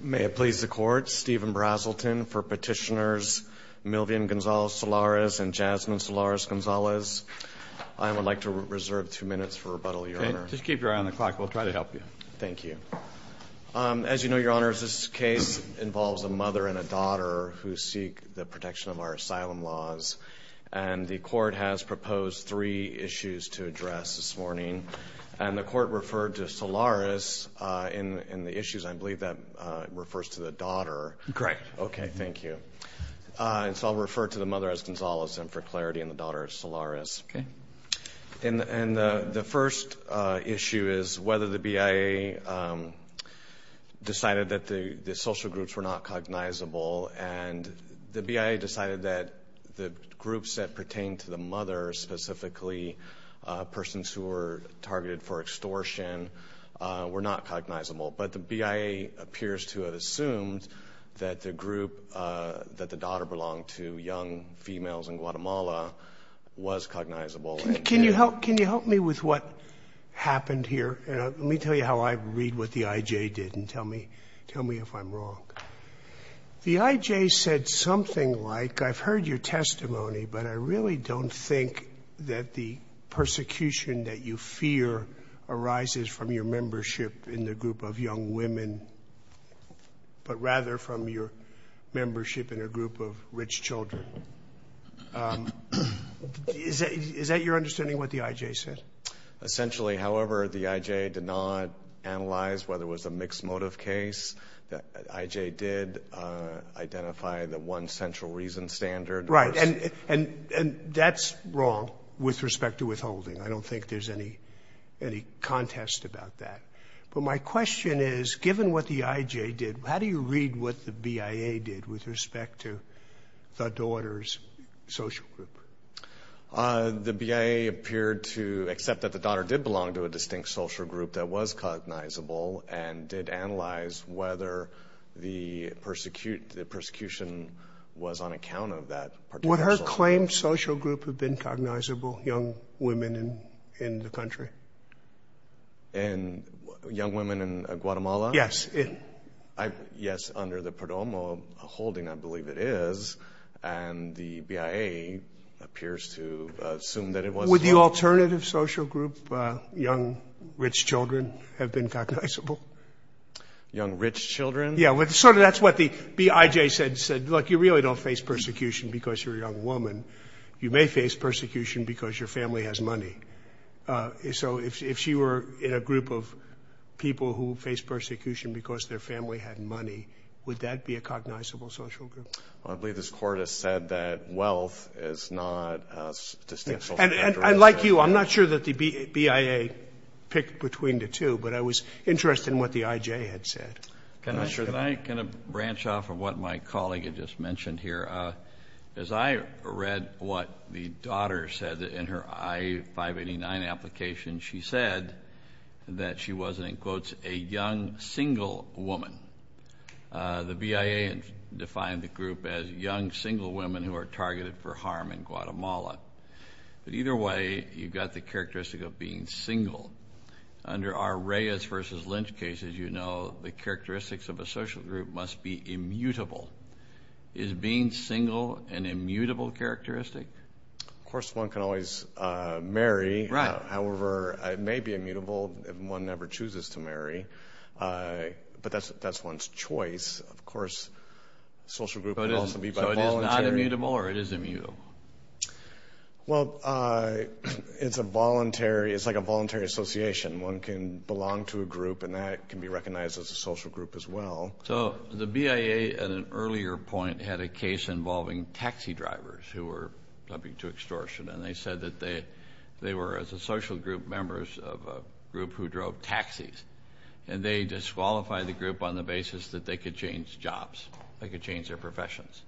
May it please the Court, Stephen Brazelton for Petitioners Milvian Gonzalez-Solares and Jasmine Solares-Gonzalez. I would like to reserve two minutes for rebuttal, Your Honor. Just keep your eye on the clock. We'll try to help you. Thank you. As you know, Your Honor, this case involves a mother and a daughter who seek the protection of our asylum laws. And the Court referred to Solares in the issues. I believe that refers to the daughter. Great. Okay, thank you. And so I'll refer to the mother as Gonzalez and for clarity on the daughter as Solares. Okay. And the first issue is whether the BIA decided that the social groups were not cognizable. And the BIA decided that the groups that pertain to the mother, specifically persons who were targeted for extortion, were not cognizable. But the BIA appears to have assumed that the group that the daughter belonged to, young females in Guatemala, was cognizable. Can you help me with what happened here? Let me tell you how I read what the IJ did and tell me if I'm wrong. The IJ said something like, I've heard your testimony, but I really don't think that the persecution that you fear arises from your membership in the group of young women, but rather from your membership in a group of rich children. Is that your understanding of what the IJ said? Essentially, however, the IJ did not analyze whether it was a mixed motive case. The IJ did identify the one central reason standard. Right. And that's wrong with respect to withholding. I don't think there's any contest about that. But my question is, given what the IJ did, how do you read what the BIA did with respect to the daughter's social group? The BIA appeared to accept that the daughter did belong to a distinct social group that was cognizable and did analyze whether the persecution was on account of that particular social group. Would her claimed social group have been cognizable, young women in the country? Young women in Guatemala? Yes. Yes, under the Perdomo holding, I believe it is. And the BIA appears to assume that it was. Would the alternative social group, young rich children, have been cognizable? Young rich children? Yes. Sort of that's what the IJ said. It said, look, you really don't face persecution because you're a young woman. You may face persecution because your family has money. So if she were in a group of people who faced persecution because their family had money, would that be a cognizable social group? I believe this Court has said that wealth is not a distinct social group. And like you, I'm not sure that the BIA picked between the two, but I was interested in what the IJ had said. Can I branch off of what my colleague had just mentioned here? As I read what the daughter said in her I-589 application, she said that she was, and it quotes, a young single woman. The BIA defined the group as young single women who are targeted for harm in Guatemala. But either way, you've got the characteristic of being single. Under our Reyes versus Lynch cases, you know the characteristics of a social group must be immutable. Is being single an immutable characteristic? Of course one can always marry. Right. However, it may be immutable if one never chooses to marry. But that's one's choice. Of course, a social group can also be by voluntary. So it is not immutable or it is immutable? Well, it's like a voluntary association. One can belong to a group, and that can be recognized as a social group as well. So the BIA at an earlier point had a case involving taxi drivers who were subject to extortion, and they said that they were, as a social group, members of a group who drove taxis, and they disqualified the group on the basis that they could change jobs, they could change their professions.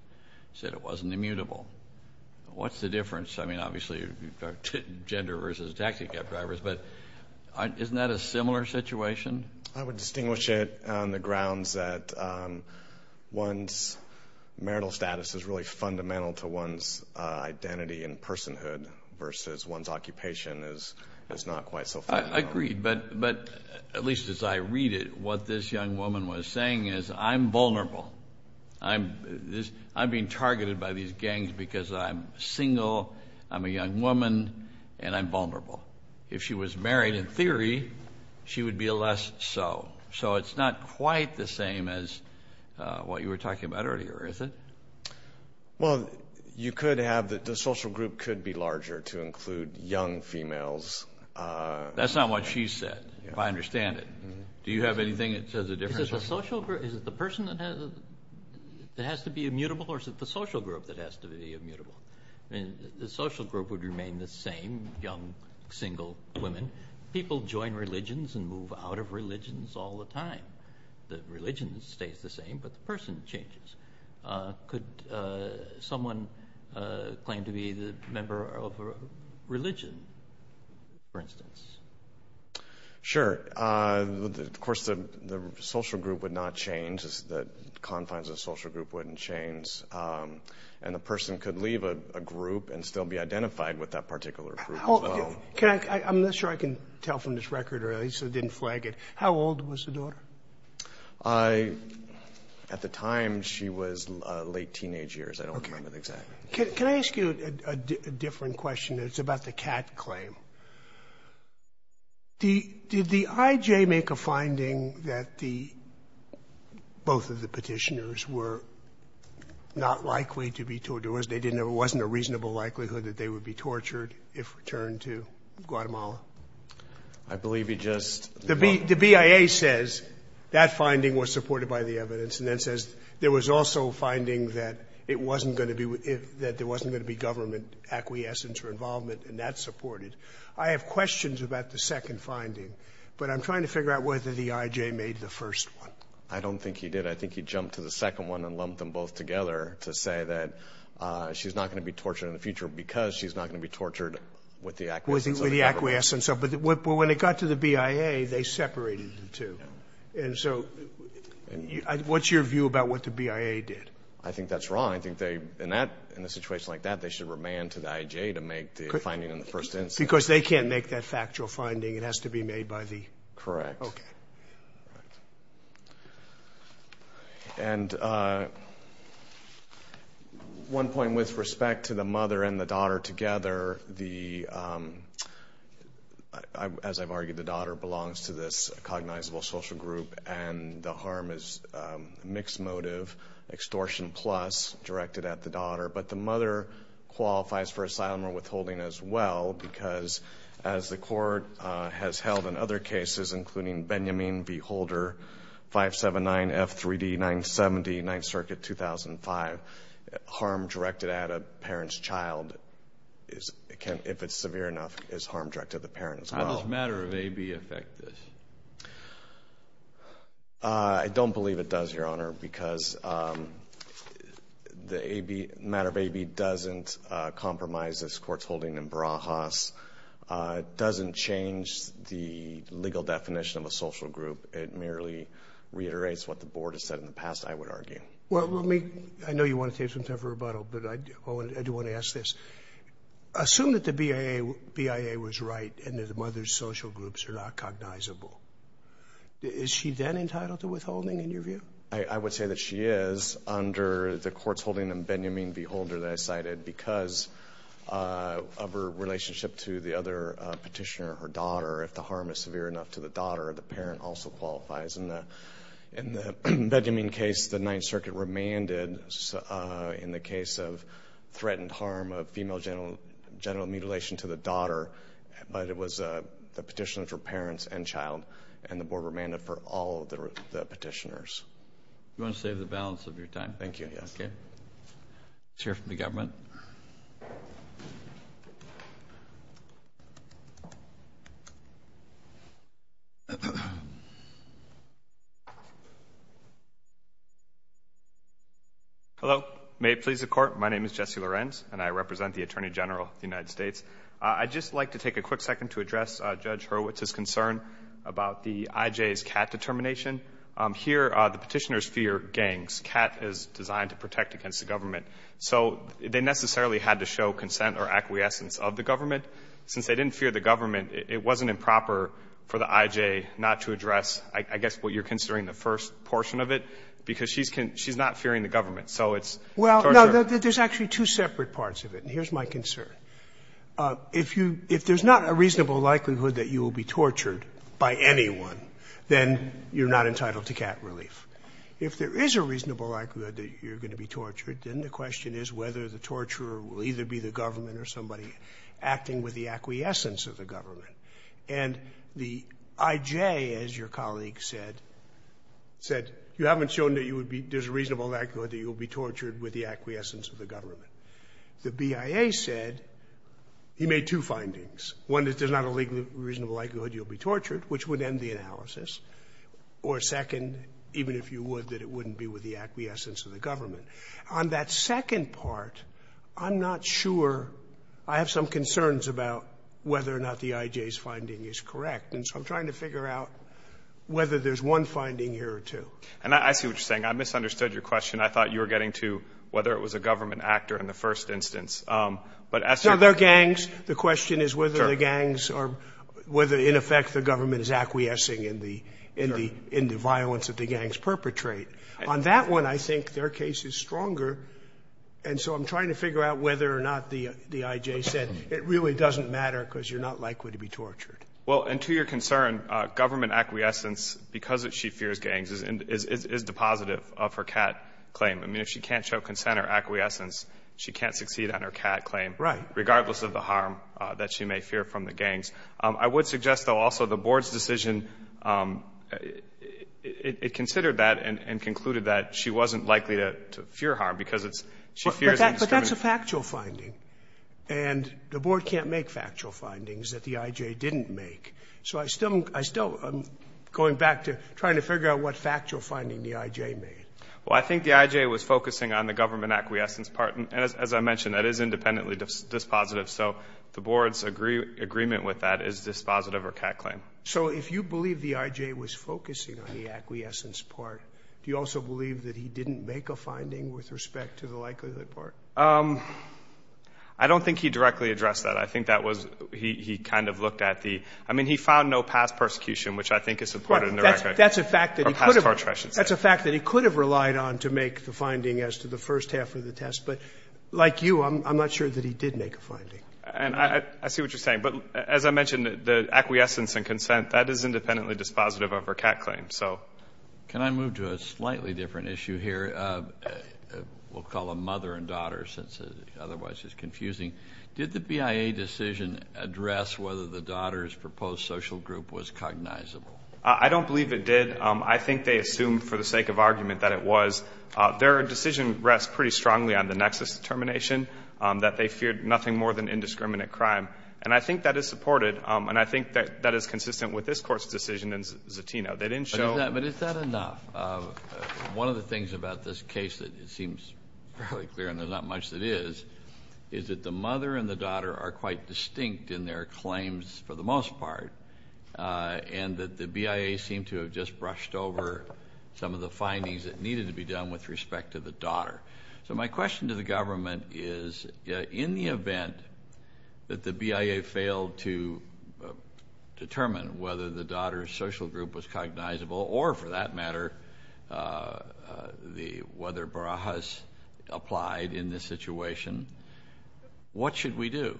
They said it wasn't immutable. What's the difference? I mean, obviously, gender versus taxi cab drivers, but isn't that a similar situation? I would distinguish it on the grounds that one's marital status is really fundamental to one's identity and personhood versus one's occupation is not quite so fundamental. I agree, but at least as I read it, what this young woman was saying is, I'm vulnerable. I'm being targeted by these gangs because I'm single, I'm a young woman, and I'm vulnerable. If she was married, in theory, she would be less so. So it's not quite the same as what you were talking about earlier, is it? Well, you could have the social group could be larger to include young females. That's not what she said, if I understand it. Do you have anything that says a difference? Is it the social group, is it the person that has to be immutable, or is it the social group that has to be immutable? The social group would remain the same, young, single women. People join religions and move out of religions all the time. The religion stays the same, but the person changes. Could someone claim to be a member of a religion, for instance? Sure. Of course, the social group would not change. The confines of the social group wouldn't change. And the person could leave a group and still be identified with that particular group as well. I'm not sure I can tell from this record, or at least it didn't flag it. How old was the daughter? At the time, she was late teenage years. I don't remember exactly. Can I ask you a different question? It's about the cat claim. Did the IJ make a finding that both of the petitioners were not likely to be tortured? It wasn't a reasonable likelihood that they would be tortured if returned to Guatemala? I believe he just— The BIA says that finding was supported by the evidence and then says there was also a finding that there wasn't going to be government acquiescence or involvement, and that's supported. I have questions about the second finding, but I'm trying to figure out whether the IJ made the first one. I don't think he did. I think he jumped to the second one and lumped them both together to say that she's not going to be tortured in the future with the acquiescence. But when it got to the BIA, they separated the two. And so what's your view about what the BIA did? I think that's wrong. I think in a situation like that, they should remand to the IJ to make the finding in the first instance. Because they can't make that factual finding. It has to be made by the— Correct. Okay. And one point with respect to the mother and the daughter together, as I've argued, the daughter belongs to this cognizable social group, and the harm is a mixed motive extortion plus directed at the daughter. But the mother qualifies for asylum or withholding as well, because as the Court has held in other cases, including Benjamin v. Holder, 579F3D970, Ninth Circuit, 2005, harm directed at a parent's child, if it's severe enough, is harm directed at the parent as well. How does matter of AB affect this? I don't believe it does, Your Honor, because the matter of AB doesn't compromise this Court's holding in Brahas. It doesn't change the legal definition of a social group. It merely reiterates what the Board has said in the past, I would argue. Well, let me—I know you want to take some time for rebuttal, but I do want to ask this. Assume that the BIA was right and that the mother's social groups are not cognizable. Is she then entitled to withholding, in your view? I would say that she is under the Court's holding in Benjamin v. Holder that I cited because of her relationship to the other petitioner, her daughter. If the harm is severe enough to the daughter, the parent also qualifies. In the Benjamin case, the Ninth Circuit remanded, in the case of threatened harm of female genital mutilation to the daughter, but the petitioners were parents and child, and the Board remanded for all the petitioners. You want to save the balance of your time? Thank you, yes. Okay. Let's hear from the government. Hello. May it please the Court, my name is Jesse Lorenz, and I represent the Attorney General of the United States. I would just like to take a quick second to address Judge Hurwitz's concern about the IJ's CAT determination. Here, the petitioners fear gangs. CAT is designed to protect against the government. So they necessarily had to show consent or acquiescence of the government. Since they didn't fear the government, it wasn't improper for the IJ not to address, I guess, what you're considering the first portion of it, because she's not fearing the government, so it's torture. Well, no, there's actually two separate parts of it, and here's my concern. If you – if there's not a reasonable likelihood that you will be tortured by anyone, then you're not entitled to CAT relief. If there is a reasonable likelihood that you're going to be tortured, then the question is whether the torturer will either be the government or somebody acting with the acquiescence of the government. And the IJ, as your colleague said, said you haven't shown that you would be – there's a reasonable likelihood that you will be tortured with the acquiescence of the government. The BIA said he made two findings. One is there's not a reasonable likelihood you'll be tortured, which would end the analysis, or second, even if you would, that it wouldn't be with the acquiescence of the government. On that second part, I'm not sure – I have some concerns about whether or not the IJ's finding is correct, and so I'm trying to figure out whether there's one finding here or two. And I see what you're saying. I misunderstood your question. I thought you were getting to whether it was a government actor in the first instance. But as to the other gangs, the question is whether the gangs are – whether, in effect, the government is acquiescing in the violence that the gangs perpetrate. On that one, I think their case is stronger, and so I'm trying to figure out whether or not the IJ said it really doesn't matter because you're not likely to be tortured. Well, and to your concern, government acquiescence, because she fears gangs, is depositive of her CAT claim. I mean, if she can't show consent or acquiescence, she can't succeed on her CAT claim. Right. Regardless of the harm that she may fear from the gangs. I would suggest, though, also the Board's decision, it considered that and concluded that she wasn't likely to fear harm because it's – she fears indiscriminate – But that's a factual finding. And the Board can't make factual findings that the IJ didn't make. So I still – I'm going back to trying to figure out what factual finding the IJ made. Well, I think the IJ was focusing on the government acquiescence part, and as I mentioned, that is independently dispositive. So the Board's agreement with that is dispositive of her CAT claim. So if you believe the IJ was focusing on the acquiescence part, do you also believe that he didn't make a finding with respect to the likelihood part? I don't think he directly addressed that. I think that was – he kind of looked at the – I mean, he found no past persecution, which I think is supported in the record. Right. That's a fact that he could have – Or past torture, I should say. That's a fact that he could have relied on to make the finding as to the first half of the test. But like you, I'm not sure that he did make a finding. And I see what you're saying. But as I mentioned, the acquiescence and consent, that is independently dispositive of her CAT claim. So – Can I move to a slightly different issue here? We'll call them mother and daughter since it otherwise is confusing. Did the BIA decision address whether the daughter's proposed social group was cognizable? I don't believe it did. I think they assumed for the sake of argument that it was. Their decision rests pretty strongly on the nexus determination that they feared nothing more than indiscriminate crime. And I think that is supported. And I think that is consistent with this Court's decision in Zatino. They didn't show – But is that enough? One of the things about this case that seems fairly clear, and there's not much that is, is that the mother and the daughter are quite distinct in their claims for the most part, and that the BIA seemed to have just brushed over some of the findings that needed to be done with respect to the daughter. So my question to the government is, in the event that the BIA failed to determine whether the daughter's social group was cognizable or, for that matter, whether Barajas applied in this situation, what should we do?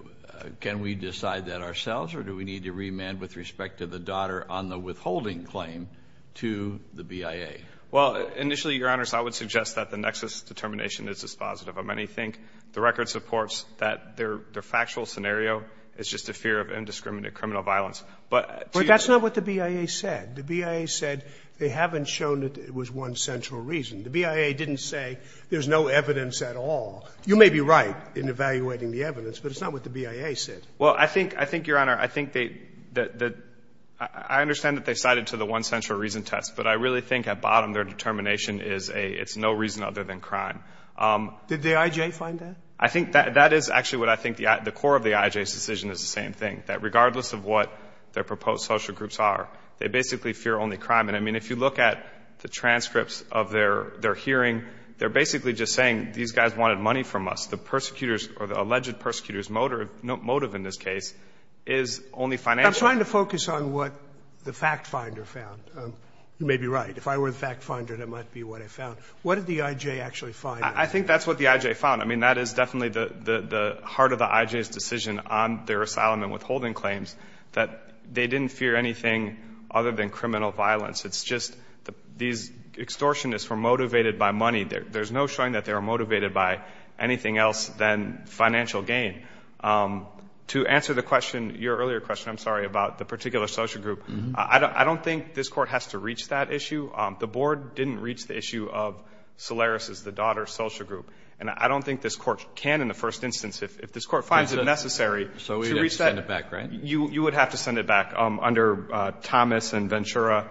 Can we decide that ourselves, or do we need to remand with respect to the daughter on the withholding claim to the BIA? Well, initially, Your Honors, I would suggest that the nexus determination is dispositive. Many think the record supports that their factual scenario is just a fear of indiscriminate criminal violence. But that's not what the BIA said. The BIA said they haven't shown that it was one central reason. The BIA didn't say there's no evidence at all. You may be right in evaluating the evidence, but it's not what the BIA said. Well, I think, Your Honor, I think they – I understand that they cited to the one central reason test, but I really think at bottom their determination is it's no reason other than crime. Did the IJ find that? I think that is actually what I think the core of the IJ's decision is the same thing, that regardless of what their proposed social groups are, they basically fear only crime. And, I mean, if you look at the transcripts of their hearing, they're basically just saying these guys wanted money from us. The persecutors or the alleged persecutors motive in this case is only financial. I'm trying to focus on what the fact finder found. You may be right. If I were the fact finder, that might be what I found. What did the IJ actually find? I think that's what the IJ found. I mean, that is definitely the heart of the IJ's decision on their asylum and withholding claims, that they didn't fear anything other than criminal violence. It's just these extortionists were motivated by money. There's no showing that they were motivated by anything else than financial gain. To answer the question, your earlier question, I'm sorry, about the particular social group, I don't think this Court has to reach that issue. The Board didn't reach the issue of Solaris's, the daughter's, social group. And I don't think this Court can in the first instance, if this Court finds it necessary to reach that. You would have to send it back, right? You would have to send it back under Thomas and Ventura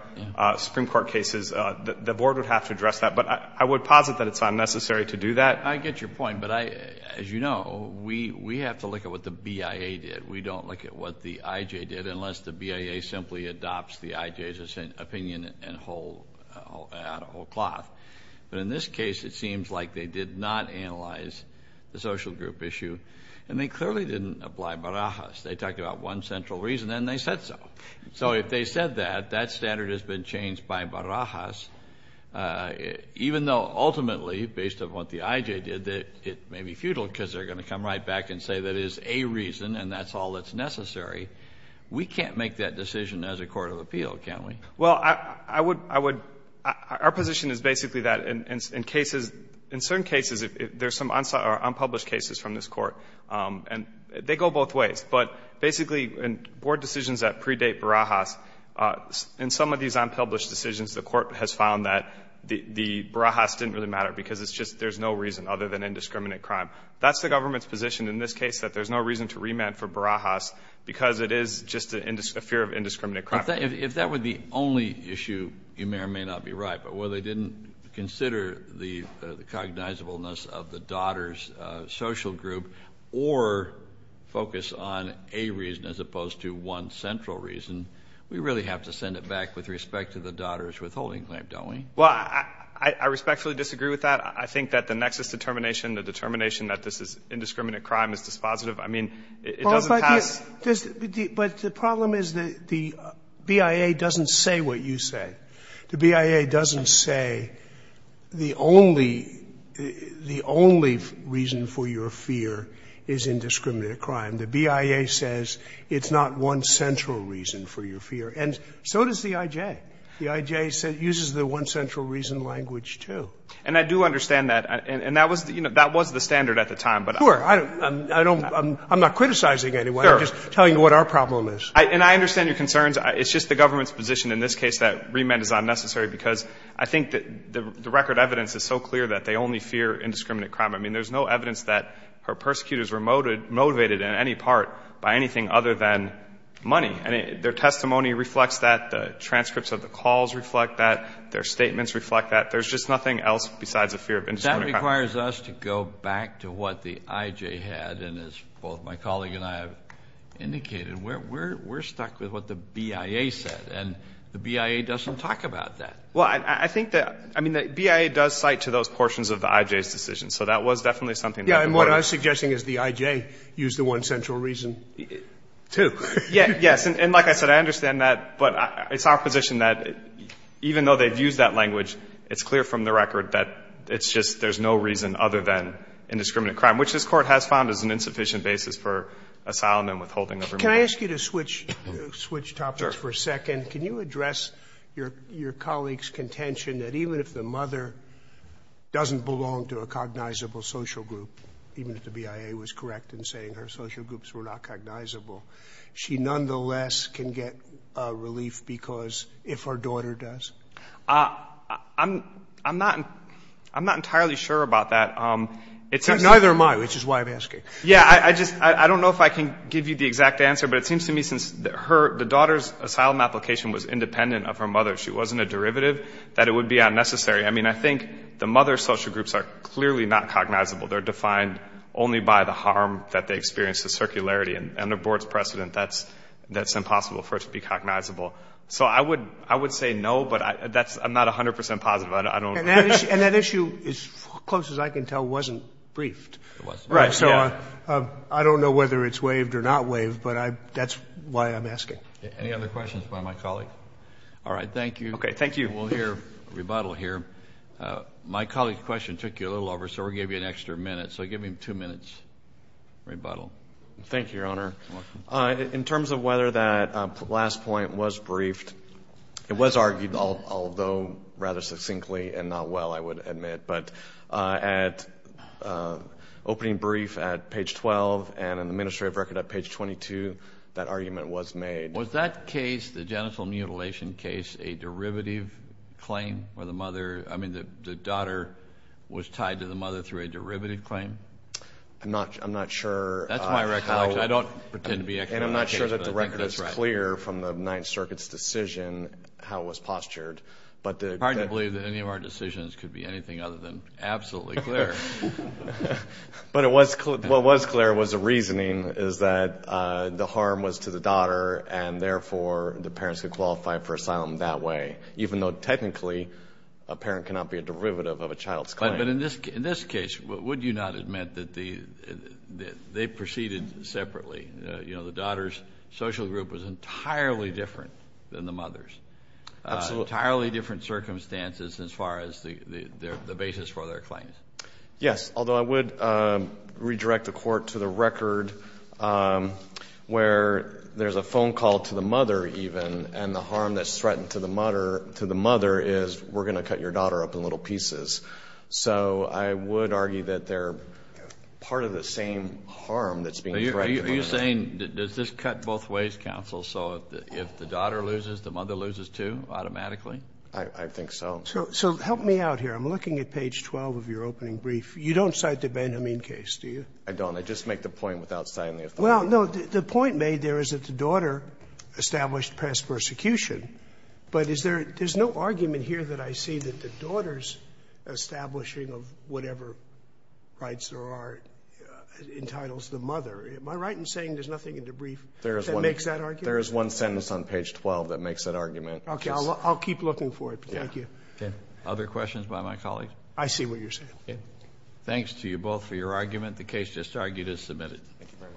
Supreme Court cases. The Board would have to address that. But I would posit that it's not necessary to do that. I get your point. But as you know, we have to look at what the BIA did. We don't look at what the IJ did unless the BIA simply adopts the IJ's opinion out of whole cloth. But in this case, it seems like they did not analyze the social group issue. And they clearly didn't apply Barajas. They talked about one central reason, and they said so. So if they said that, that standard has been changed by Barajas, even though ultimately, based on what the IJ did, it may be futile because they're going to come right back and say that it is a reason and that's all that's necessary. We can't make that decision as a court of appeal, can we? Well, I would — I would — our position is basically that in cases, in certain cases, there's some unpublished cases from this Court. And they go both ways. But basically, in Board decisions that predate Barajas, in some of these unpublished decisions, the Court has found that the Barajas didn't really matter because it's just there's no reason other than indiscriminate crime. That's the government's position in this case, that there's no reason to remand for Barajas because it is just a fear of indiscriminate crime. If that were the only issue, you may or may not be right. But whether they didn't consider the cognizableness of the daughter's social group or focus on a reason as opposed to one central reason, we really have to send it back with respect to the daughter's withholding claim, don't we? Well, I respectfully disagree with that. I think that the nexus determination, the determination that this is indiscriminate crime is dispositive. I mean, it doesn't have — But the problem is that the BIA doesn't say what you say. The BIA doesn't say the only reason for your fear is indiscriminate crime. The BIA says it's not one central reason for your fear. And so does the IJ. The IJ uses the one central reason language, too. And I do understand that. And that was the standard at the time. Sure. I'm not criticizing anyone. I'm just telling you what our problem is. And I understand your concerns. It's just the government's position in this case that remand is unnecessary because I think the record evidence is so clear that they only fear indiscriminate crime. I mean, there's no evidence that her persecutors were motivated in any part by anything other than money. Their testimony reflects that. The transcripts of the calls reflect that. Their statements reflect that. There's just nothing else besides a fear of indiscriminate crime. That requires us to go back to what the IJ had. And as both my colleague and I have indicated, we're stuck with what the BIA said. And the BIA doesn't talk about that. Well, I think that, I mean, the BIA does cite to those portions of the IJ's decision. So that was definitely something that the Court used. And what I'm suggesting is the IJ used the one central reason, too. Yes. And like I said, I understand that. But it's our position that even though they've used that language, it's clear from the record that it's just there's no reason other than indiscriminate crime, which this Court has found is an insufficient basis for asylum and withholding of remuneration. Can I ask you to switch topics for a second? Sure. Can you address your colleague's contention that even if the mother doesn't belong to a cognizable social group, even if the BIA was correct in saying her social groups were not cognizable, she nonetheless can get relief because if her daughter does? I'm not entirely sure about that. Neither am I, which is why I'm asking. Yeah. I just don't know if I can give you the exact answer. But it seems to me since the daughter's asylum application was independent of her mother, she wasn't a derivative, that it would be unnecessary. I mean, I think the mother's social groups are clearly not cognizable. They're defined only by the harm that they experience, the circularity. And the Board's precedent, that's impossible for it to be cognizable. So I would say no, but I'm not 100 percent positive. And that issue, as close as I can tell, wasn't briefed. It wasn't. Right. So I don't know whether it's waived or not waived, but that's why I'm asking. Any other questions by my colleague? All right. Thank you. Okay. Thank you. We'll hear a rebuttal here. My colleague's question took you a little over, so we'll give you an extra minute. So give him two minutes, rebuttal. Thank you, Your Honor. You're welcome. In terms of whether that last point was briefed, it was argued, although rather succinctly and not well, I would admit. But at opening brief at page 12 and in the administrative record at page 22, that argument was made. Was that case, the genital mutilation case, a derivative claim for the mother? I mean, the daughter was tied to the mother through a derivative claim? I'm not sure. That's my recollection. I don't pretend to be expert on that case, but I think that's right. And I'm not sure that the record is clear from the Ninth Circuit's decision how it was postured. It's hard to believe that any of our decisions could be anything other than absolutely clear. But what was clear was the reasoning is that the harm was to the daughter, and therefore the parents could qualify for asylum that way, even though technically a parent cannot be a derivative of a child's claim. But in this case, would you not admit that they proceeded separately? You know, the daughter's social group was entirely different than the mother's. Absolutely. Entirely different circumstances as far as the basis for their claims. Yes, although I would redirect the Court to the record where there's a phone call to the mother even, and the harm that's threatened to the mother is we're going to cut your daughter up in little pieces. So I would argue that they're part of the same harm that's being threatened. Are you saying does this cut both ways, counsel? So if the daughter loses, the mother loses, too, automatically? I think so. So help me out here. I'm looking at page 12 of your opening brief. You don't cite the Benjamin case, do you? I don't. I just make the point without citing the authority. Well, no. The point made there is that the daughter established past persecution, but is there no argument here that I see that the daughter's establishing of whatever rights there are entitles the mother. Am I right in saying there's nothing in the brief that makes that argument? There is one sentence on page 12 that makes that argument. Okay. I'll keep looking for it. Thank you. Okay. Other questions by my colleagues? I see what you're saying. Okay. Thanks to you both for your argument. The case just argued is submitted. Thank you very much.